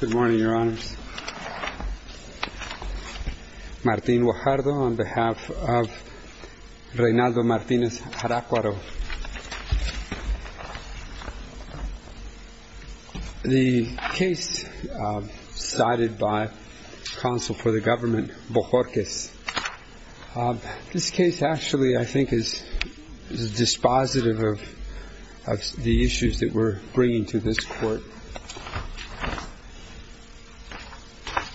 Good morning, Your Honors. Martin Guajardo on behalf of Reynaldo Martinez-Jaracuaro. The case cited by counsel for the government, Bojorquez, this case actually I think is dispositive of the issues that we're bringing to this Court.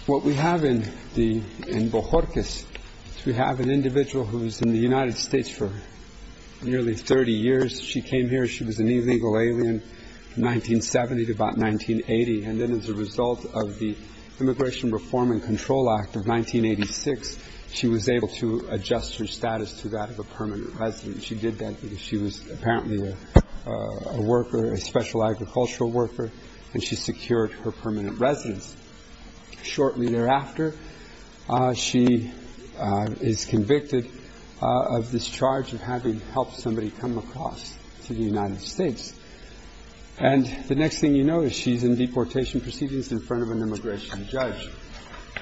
What we have in Bojorquez is we have an individual who was in the United States for nearly 30 years. She came here. She was an illegal alien from 1970 to about 1980. And then as a result of the Immigration Reform and Control Act of 1986, she was able to adjust her status to that of a permanent resident. She did that because she was apparently a worker, a special agricultural worker, and she secured her permanent residence. Shortly thereafter, she is convicted of this charge of having helped somebody come across to the United States. And the next thing you notice, she's in deportation proceedings in front of an immigration judge.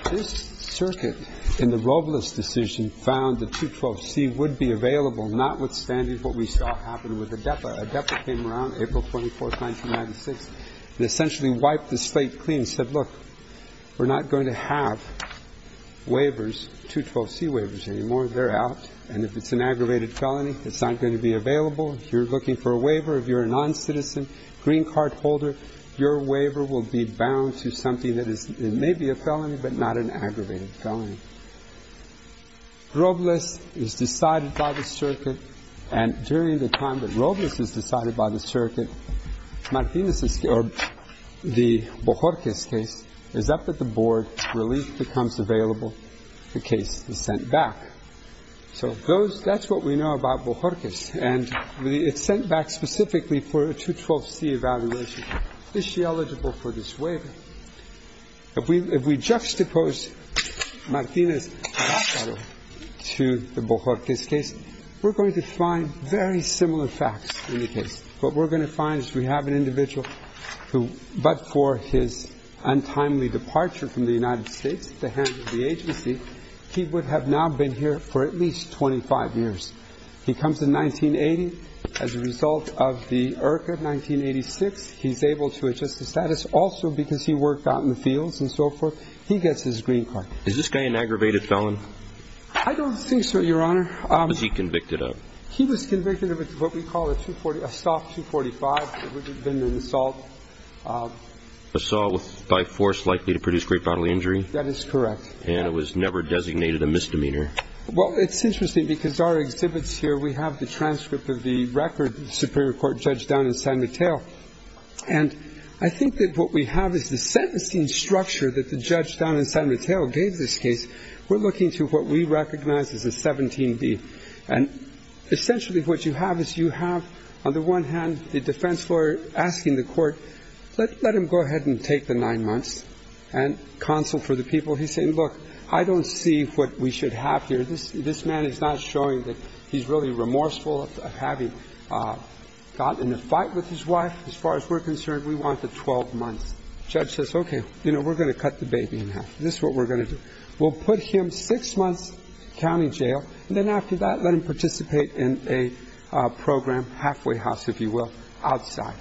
This circuit in the Robles decision found that 212C would be available, notwithstanding what we saw happen with ADEPA. ADEPA came around April 24th, 1996, and essentially wiped the slate clean and said, look, we're not going to have waivers, 212C waivers anymore. They're out. And if it's an aggravated felony, it's not going to be available. If you're looking for a waiver, if you're a noncitizen green card holder, your waiver will be bound to something that may be a felony, but not an aggravated felony. Robles is decided by the circuit, and during the time that Robles is decided by the circuit, Martinez's case, or the Bohorkes case, is up at the board. Relief becomes available. The case is sent back. So that's what we know about Bohorkes. And it's sent back specifically for a 212C evaluation. Is she eligible for this waiver? If we juxtapose Martinez's case to the Bohorkes case, we're going to find very similar facts in the case. What we're going to find is we have an individual who, but for his untimely departure from the United States at the hands of the agency, he would have now been here for at least 25 years. He comes in 1980. As a result of the IRCA of 1986, he's able to adjust the status. Also, because he worked out in the fields and so forth, he gets his green card. Is this guy an aggravated felon? I don't think so, Your Honor. What was he convicted of? He was convicted of what we call a soft 245. It would have been an assault. Assault by force likely to produce great bodily injury? That is correct. And it was never because our exhibits here, we have the transcript of the record of the Supreme Court judge down in San Mateo. And I think that what we have is the sentencing structure that the judge down in San Mateo gave this case. We're looking to what we recognize as a 17B. And essentially what you have is you have, on the one hand, the defense lawyer asking the court, let him go ahead and take the nine months and counsel for the people. He's saying, look, I don't see what we should have here. This man is not showing that he's really remorseful of having gotten in a fight with his wife. As far as we're concerned, we want the 12 months. The judge says, okay, we're going to cut the baby in half. This is what we're going to do. We'll put him six months in county jail. And then after that, let him participate in a program, halfway house, if you will, outside.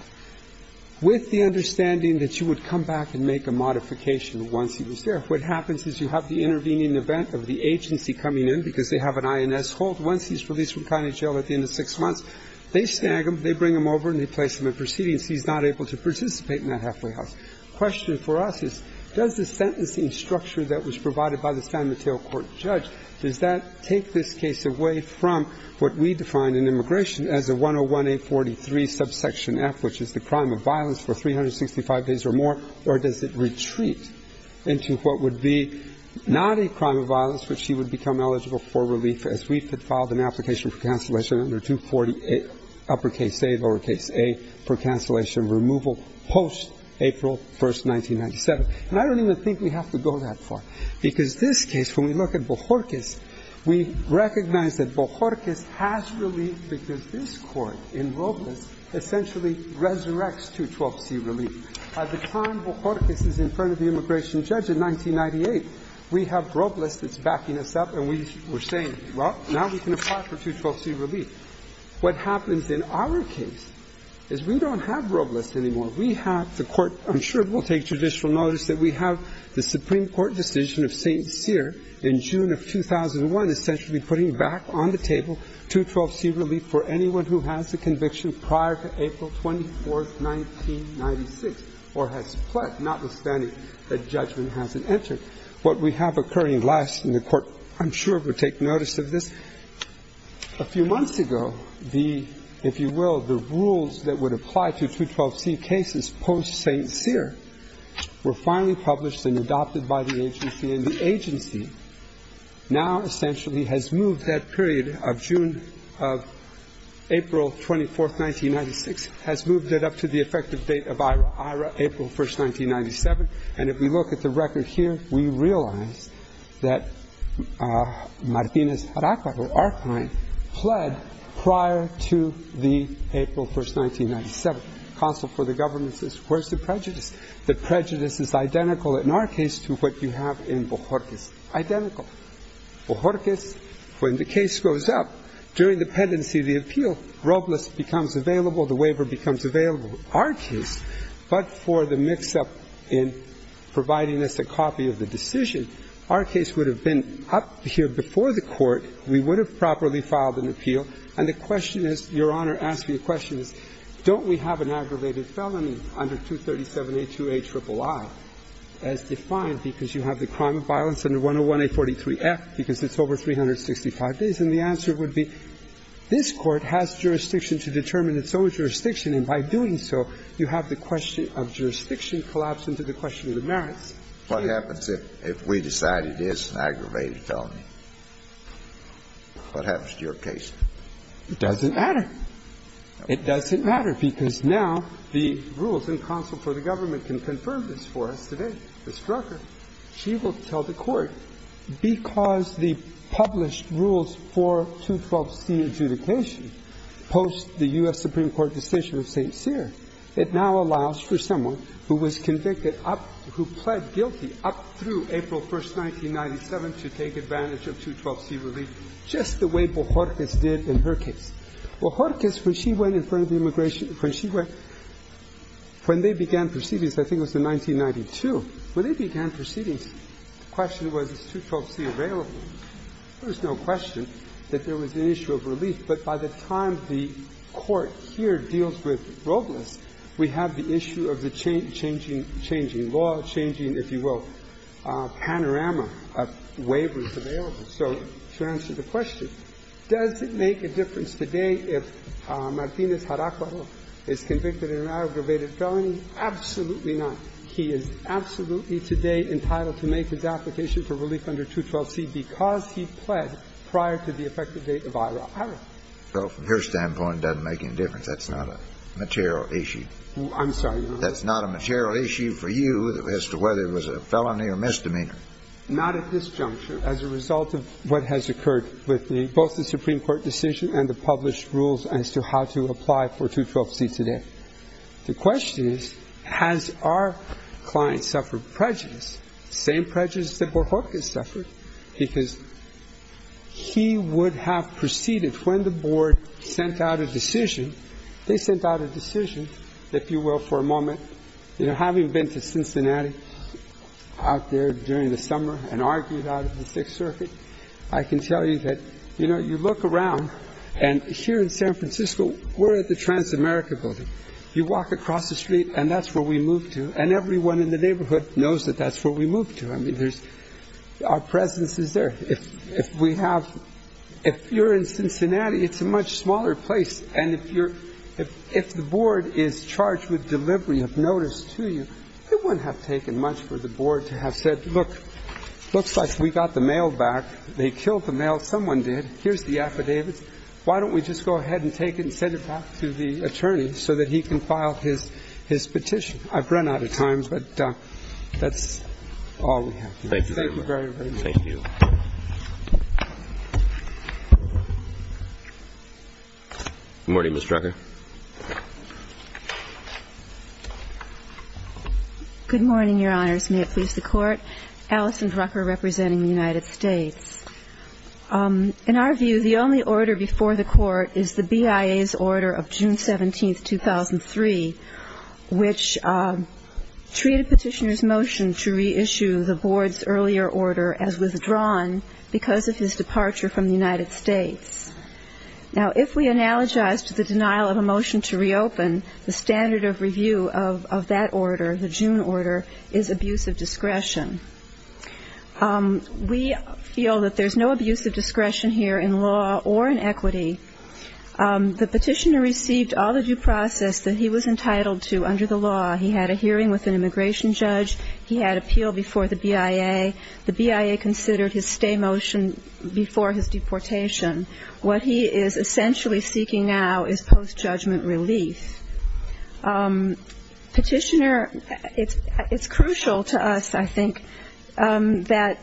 With the understanding that you would come back and make a modification once he was released from county jail, you have the intervening event of the agency coming in because they have an INS hold. Once he's released from county jail at the end of six months, they snag him, they bring him over, and they place him in proceedings. He's not able to participate in that halfway house. The question for us is, does the sentencing structure that was provided by the San Mateo court judge, does that take this case away from what we define in immigration as a 101A43 subsection F, which is the crime of violence for 365 days or more, or does it retreat into what would be not a crime of violence, but she would become eligible for relief as we've had filed an application for cancellation under 248 uppercase A, lowercase A, for cancellation removal post-April 1st, 1997. And I don't even think we have to go that far, because this case, when we look at Bojorquez, we recognize that Bojorquez has relief because this Court in Robles essentially resurrects 212C relief. By the time Bojorquez is in front of the immigration judge in 1998, we have Robles that's backing us up, and we're saying, well, now we can apply for 212C relief. What happens in our case is we don't have Robles anymore. We have the Court. I'm sure it will take judicial notice that we have the Supreme Court decision of St. Cyr in June of 2001 essentially putting back on the table 212C relief for anyone who has the conviction prior to April 24th, 1996, or has pled notwithstanding that judgment hasn't entered. What we have occurring last in the Court, I'm sure, will take notice of this. A few months ago, the, if you will, the rules that would apply to 212C cases post-St. Cyr were finally published and adopted by the agency. And the agency now essentially has moved that period of June of April 24th, 1996, has moved it up to the effective date of April 1st, 1997. And if we look at the record here, we realize that Martinez-Aracajo, our client, pled prior to the April 1st, 1997. Counsel for the government says, where's the prejudice? The prejudice is identical in our case to what you have in Bojorquez. Identical. Bojorquez, when the case goes up, during the pendency of the appeal, Robles becomes available, the waiver becomes available. So our case, but for the mix-up in providing us a copy of the decision, our case would have been up here before the Court. We would have properly filed an appeal. And the question is, Your Honor asked me a question, is don't we have an aggravated felony under 237A2A triple I as defined because you have the crime of violence under 101A43F because it's over 365 days? And the answer would be this Court has jurisdiction to determine its own jurisdiction and by doing so, you have the question of jurisdiction collapse into the question of the merits. What happens if we decide it is an aggravated felony? What happens to your case? It doesn't matter. It doesn't matter because now the rules in counsel for the government can confirm this for us today. Ms. Drucker, she will tell the Court, because the published rules for 212C adjudication post the U.S. Supreme Court decision of St. Cyr, it now allows for someone who was convicted up, who pled guilty up through April 1st, 1997 to take advantage of 212C relief just the way Bohorkes did in her case. Bohorkes, when she went in front of the immigration, when she went, when they began proceedings, I think it was in 1992, when they began proceedings, the question was is 212C available? There's no question that there was an issue of relief. But by the time the Court here deals with Robles, we have the issue of the changing law, changing, if you will, panorama of waivers available. So to answer the question, does it make a difference today if Martinez-Jaraquaro is convicted in an aggravated felony? Absolutely not. He is absolutely today entitled to make his application for relief under 212C because he pled prior to the effective date of Ira. Ira. Well, from your standpoint, it doesn't make any difference. That's not a material issue. I'm sorry. That's not a material issue for you as to whether it was a felony or misdemeanor. Not at this juncture. As a result of what has occurred with both the Supreme Court decision and the published rules as to how to apply for 212C today. The question is, has our client suffered prejudice? The same prejudice that Warhawk has suffered because he would have proceeded when the Board sent out a decision. They sent out a decision, if you will, for a moment. You know, having been to Cincinnati out there during the summer and argued out of the Sixth Circuit, I can tell you that, you know, you look around and here in San Francisco, we're at the Transamerica building. You walk across the street and that's where we moved to. And everyone in the neighborhood knows that that's where we moved to. I mean, there's – our presence is there. If we have – if you're in Cincinnati, it's a much smaller place. And if you're – if the Board is charged with delivery of notice to you, it wouldn't have taken much for the Board to have said, look, looks like we got the mail back. They killed the mail. Someone did. Here's the affidavit. Why don't we just go ahead and take it and send it back to the attorney so that he can file his petition? I've run out of time, but that's all we have. Thank you very much. Thank you. Good morning, Ms. Drucker. Good morning, Your Honors. May it please the Court. Allison Drucker representing the United States. In our view, the only order before the Court is the BIA's order of June 17, 2003, which treated Petitioner's motion to reissue the Board's earlier order as withdrawn because of his departure from the United States. Now, if we analogize to the denial of a motion to reopen, the standard of review of that order, the June order, is abuse of discretion. We feel that there's no abuse of discretion here in law or in equity. The Petitioner received all the due process that he was entitled to under the law. He had a hearing with an immigration judge. He had appeal before the BIA. The BIA considered his stay motion before his deportation. What he is essentially seeking now is post-judgment relief. Petitioner, it's crucial to us, I think, that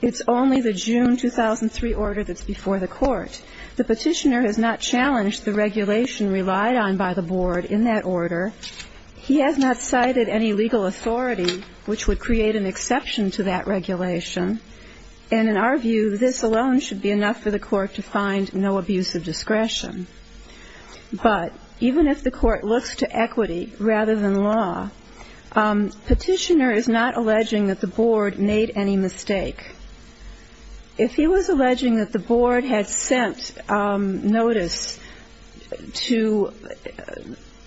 it's only the June 2003 order that's before the Court. The Petitioner has not challenged the regulation relied on by the Board in that order. He has not cited any legal authority which would create an exception to that regulation. And in our view, this alone should be enough for the Court to find no abuse of discretion. But even if the Court looks to equity rather than law, Petitioner is not alleging that the Board made any mistake. If he was alleging that the Board had sent notice to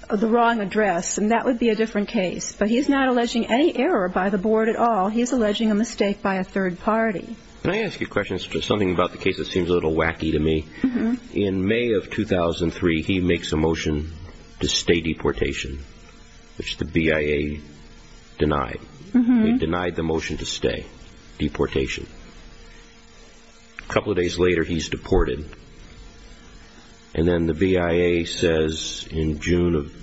the wrong address, then that would be a different case. But he's not alleging any error by the Board at all. He's alleging a mistake by a third party. Can I ask you a question? It's just something about the case that seems a little wacky to me. In May of 2003, he makes a motion to stay deportation, which the BIA denied. He denied the motion to stay deportation. A couple of days later, he's deported. And then the BIA says in June of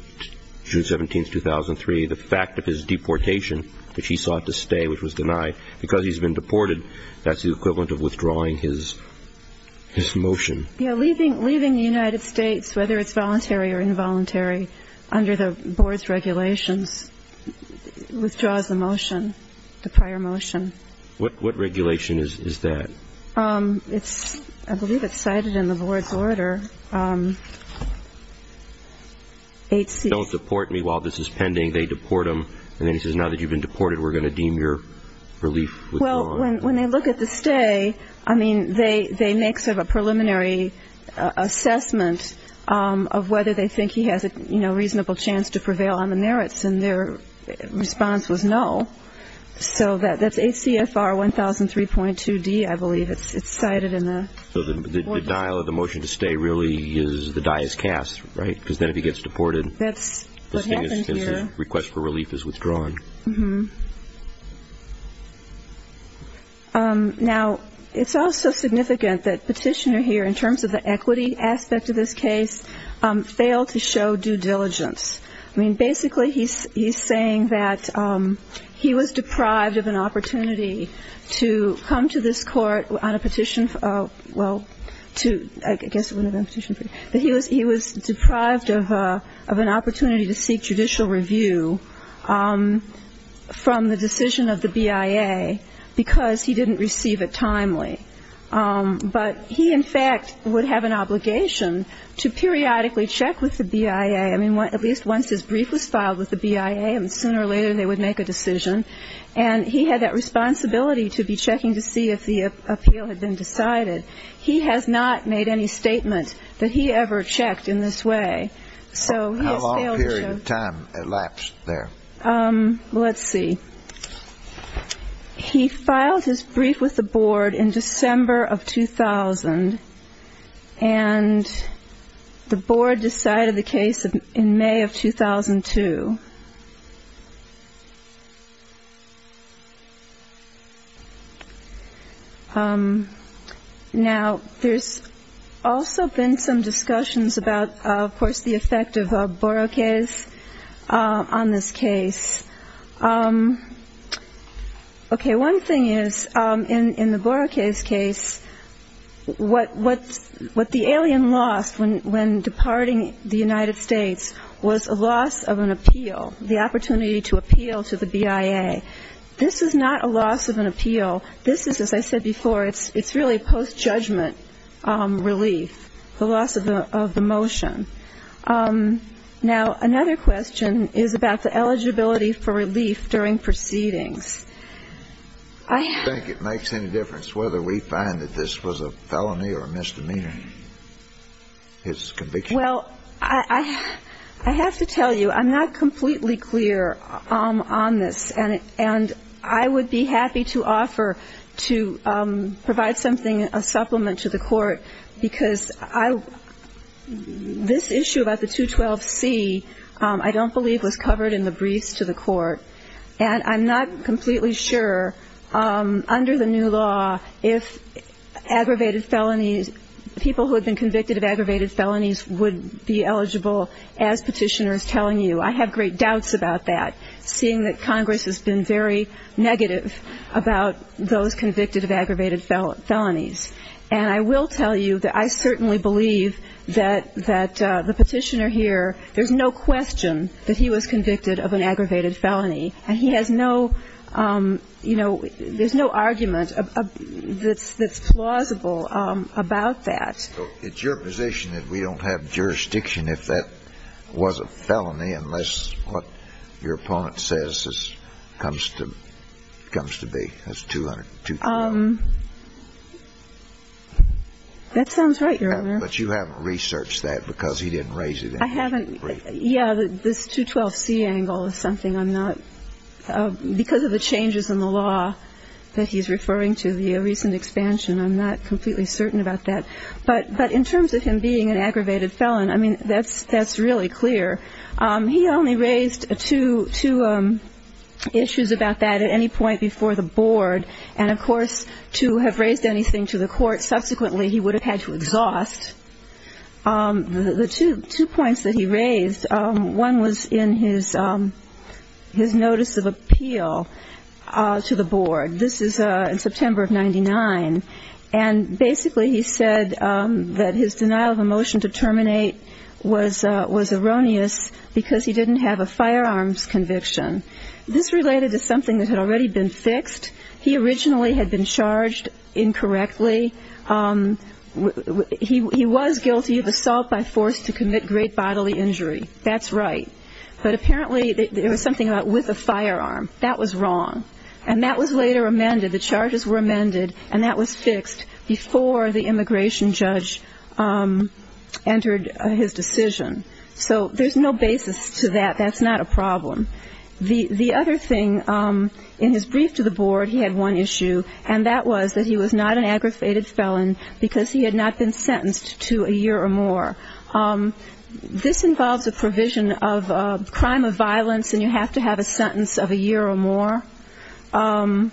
June 17, 2003, the fact of his deportation, which he sought to stay, which was denied because he's been deported, that's the equivalent of withdrawing his motion. Yeah, leaving the United States, whether it's voluntary or involuntary, under the Board's regulations, withdraws the motion, the prior motion. What regulation is that? I believe it's cited in the Board's order. Don't deport me while this is pending. They deport him. And then he says, now that you've been deported, we're going to deem your relief withdrawn. When they look at the stay, they make sort of a preliminary assessment of whether they think he has a reasonable chance to prevail on the merits, and their response was no. So that's ACFR 1003.2d, I believe. It's cited in the Board's order. So the dial of the motion to stay really is the dias cas, right? Because then if he gets deported, his request for relief is withdrawn. Now, it's also significant that Petitioner here, in terms of the equity aspect of this case, failed to show due diligence. I mean, basically he's saying that he was deprived of an opportunity to come to this court on a petition, well, I guess it wouldn't have been a petition, but he was deprived of an opportunity to seek judicial review. From the decision of the BIA, because he didn't receive it timely. But he, in fact, would have an obligation to periodically check with the BIA. I mean, at least once his brief was filed with the BIA, and sooner or later they would make a decision. And he had that responsibility to be checking to see if the appeal had been decided. He has not made any statement that he ever checked in this way. How long period of time elapsed there? Let's see. He filed his brief with the board in December of 2000, and the board decided the case in May of 2002. Now, there's also been some discussions about, of course, the effect of Borokay's on this case. Okay, one thing is, in the Borokay's case, what the alien lost when departing the United States was a loss of an appeal, the opportunity to appeal to the BIA. This is not a loss of an appeal. This is, as I said before, it's really post-judgment relief. The loss of the motion. Now, another question is about the eligibility for relief during proceedings. Do you think it makes any difference whether we find that this was a felony or a misdemeanor, his conviction? Well, I have to tell you, I'm not completely clear on this, and I would be happy to offer to provide something, a supplement to the court, because this issue about the 212C I don't believe was covered in the briefs to the court. And I'm not completely sure, under the new law, if aggravated felonies, people who have been convicted of aggravated felonies would be eligible, as Petitioner is telling you. I have great doubts about that, seeing that Congress has been very negative about those convicted of aggravated felonies. And I will tell you that I certainly believe that the Petitioner here, there's no question that he was convicted of an aggravated felony, and he has no, you know, there's no argument that's plausible about that. It's your position that we don't have jurisdiction if that was a felony, unless what your opponent says comes to be, as 212. That sounds right, Your Honor. But you haven't researched that, because he didn't raise it in his brief. I haven't. Yeah, this 212C angle is something I'm not, because of the changes in the law that he's referring to via recent expansion, I'm not completely certain about that. But in terms of him being an aggravated felon, I mean, that's really clear. He only raised two issues about that at any point before the board. And of course, to have raised anything to the court, subsequently, he would have had to exhaust. The two points that he raised, one was in his notice of appeal to the board. This is in September of 99. And basically, he said that his denial of a motion to terminate was erroneous, because he didn't have a firearms conviction. This related to something that had already been fixed. He originally had been charged incorrectly. He was guilty of assault by force to commit great bodily injury. That's right. But apparently, there was something about with a firearm. And that was later amended. The charges were amended, and that was fixed before the immigration judge entered his decision. So there's no basis to that. That's not a problem. The other thing, in his brief to the board, he had one issue. And that was that he was not an aggravated felon, because he had not been sentenced to a year or more. This involves a provision of a crime of violence, and you have to have a sentence of a year or more. And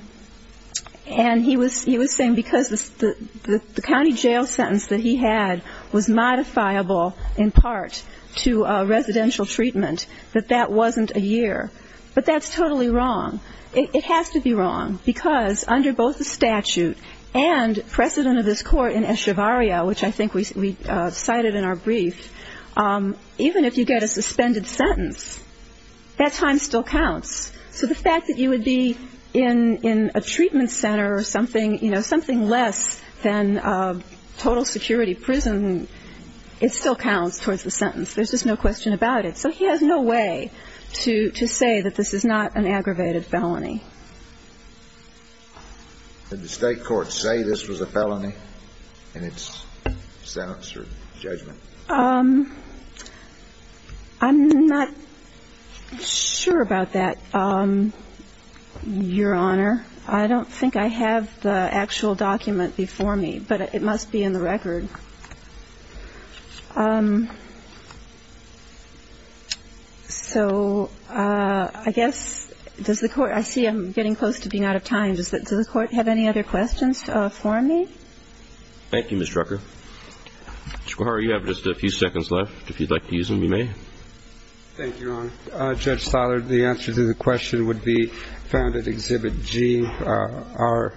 he was saying, because the county jail sentence that he had was modifiable, in part, to residential treatment, that that wasn't a year. But that's totally wrong. It has to be wrong, because under both the statute and precedent of this court in Echevarria, which I think we cited in our brief, even if you get a suspended sentence, that time still counts. So the fact that you would be in a treatment center or something less than total security prison, it still counts towards the sentence. There's just no question about it. So he has no way to say that this is not an aggravated felony. Did the state court say this was a felony in its sentence or judgment? I'm not sure about that. Your Honor, I don't think I have the actual document before me, but it must be in the record. So I guess, does the court... I see I'm getting close to being out of time. Does the court have any other questions for me? Thank you, Ms. Drucker. Mr. Guajara, you have just a few seconds left. If you'd like to use them, you may. Thank you, Your Honor. Judge Siler, the answer to the question would be found at Exhibit G, our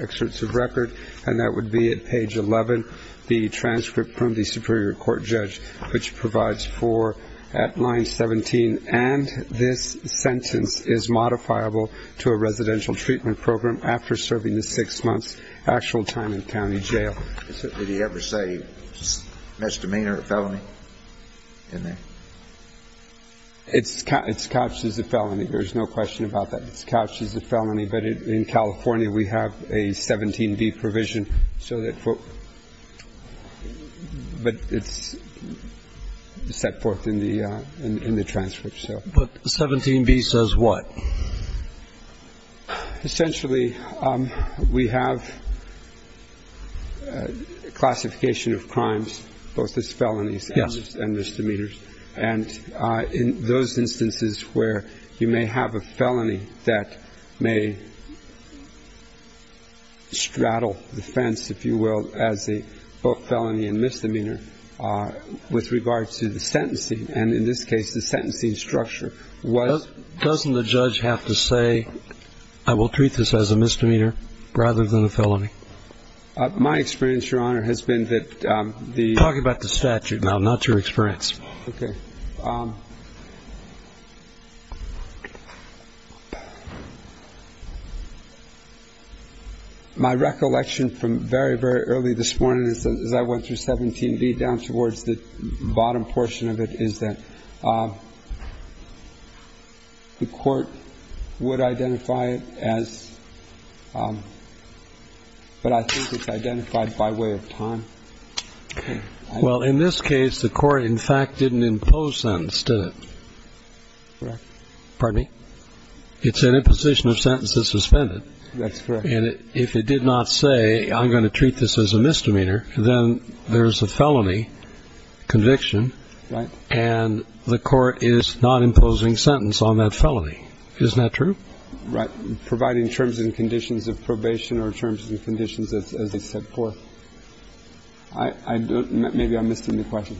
excerpts of record, and that would be at page 11, the transcript from the Superior Court judge, which provides for at line 17, and this sentence is modifiable to a residential treatment program after serving a six-month actual time in county jail. Did he ever say misdemeanor or felony in there? It's couched as a felony. There's no question about that. It's couched as a felony, but in California we have a 17B provision, so that... But it's set forth in the transcript, so... But 17B says what? Essentially, we have a classification of crimes, both as felonies and misdemeanors, and in those instances where you may have a felony that may straddle the fence, if you will, as a felony and misdemeanor, with regard to the sentencing, and in this case the sentencing structure was... Doesn't the judge have to say, I will treat this as a misdemeanor rather than a felony? My experience, Your Honor, has been that the... No, not your experience. Okay. My recollection from very, very early this morning as I went through 17B, down towards the bottom portion of it, is that the court would identify it as... But I think it's identified by way of time. Well, in this case, the court, in fact, didn't impose sentence, did it? Correct. Pardon me? It's an imposition of sentence that's suspended. That's correct. And if it did not say, I'm going to treat this as a misdemeanor, then there's a felony conviction, and the court is not imposing sentence on that felony. Isn't that true? Right. Providing terms and conditions of probation or terms and conditions as it's set forth. I don't... Maybe I'm missing the question.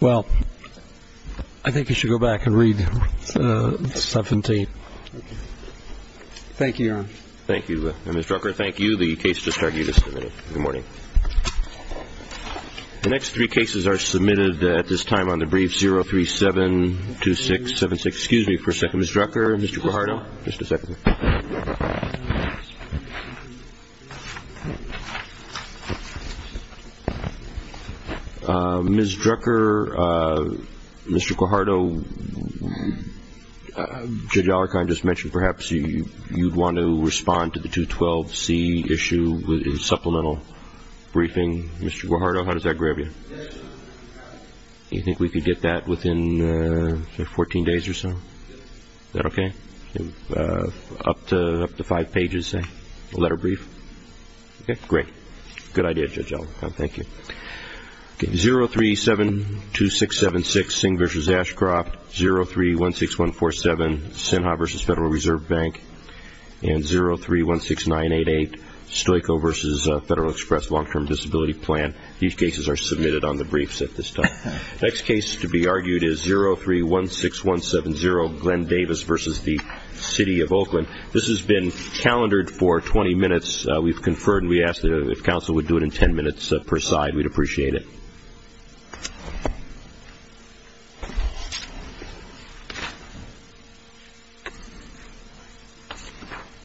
Well, I think you should go back and read 17. Okay. Thank you, Your Honor. Thank you. And, Ms. Drucker, thank you. The case just argued is submitted. Good morning. The next three cases are submitted at this time on the brief 037-2676. Excuse me for a second. Ms. Drucker, Mr. Guajardo. Just a second. Ms. Drucker, Mr. Guajardo, Judge Allerkind just mentioned perhaps you'd want to respond to the 212-C issue with a supplemental briefing. Mr. Guajardo, how does that grab you? You think we could get that within 14 days or so? Thank you. Thank you. Thank you. Thank you. Thank you. Up to 5 pages, say, a letter brief? Okay. Great. Good idea, Judge Allerkind. Thank you. Okay. 037-2676, Singh v. Ashcroft, 03-16147, Sinha v. Federal Reserve Bank, and 03-16988, Stoico v. Federal Express Long-Term Disability Plan. These cases are submitted on the briefs at this time. Next case to be argued is 03-16170, General Glenn Davis v. The City of Oakland. This has been calendared for 20 minutes. We've conferred and we asked if counsel would do it in 10 minutes per side. We'd appreciate it.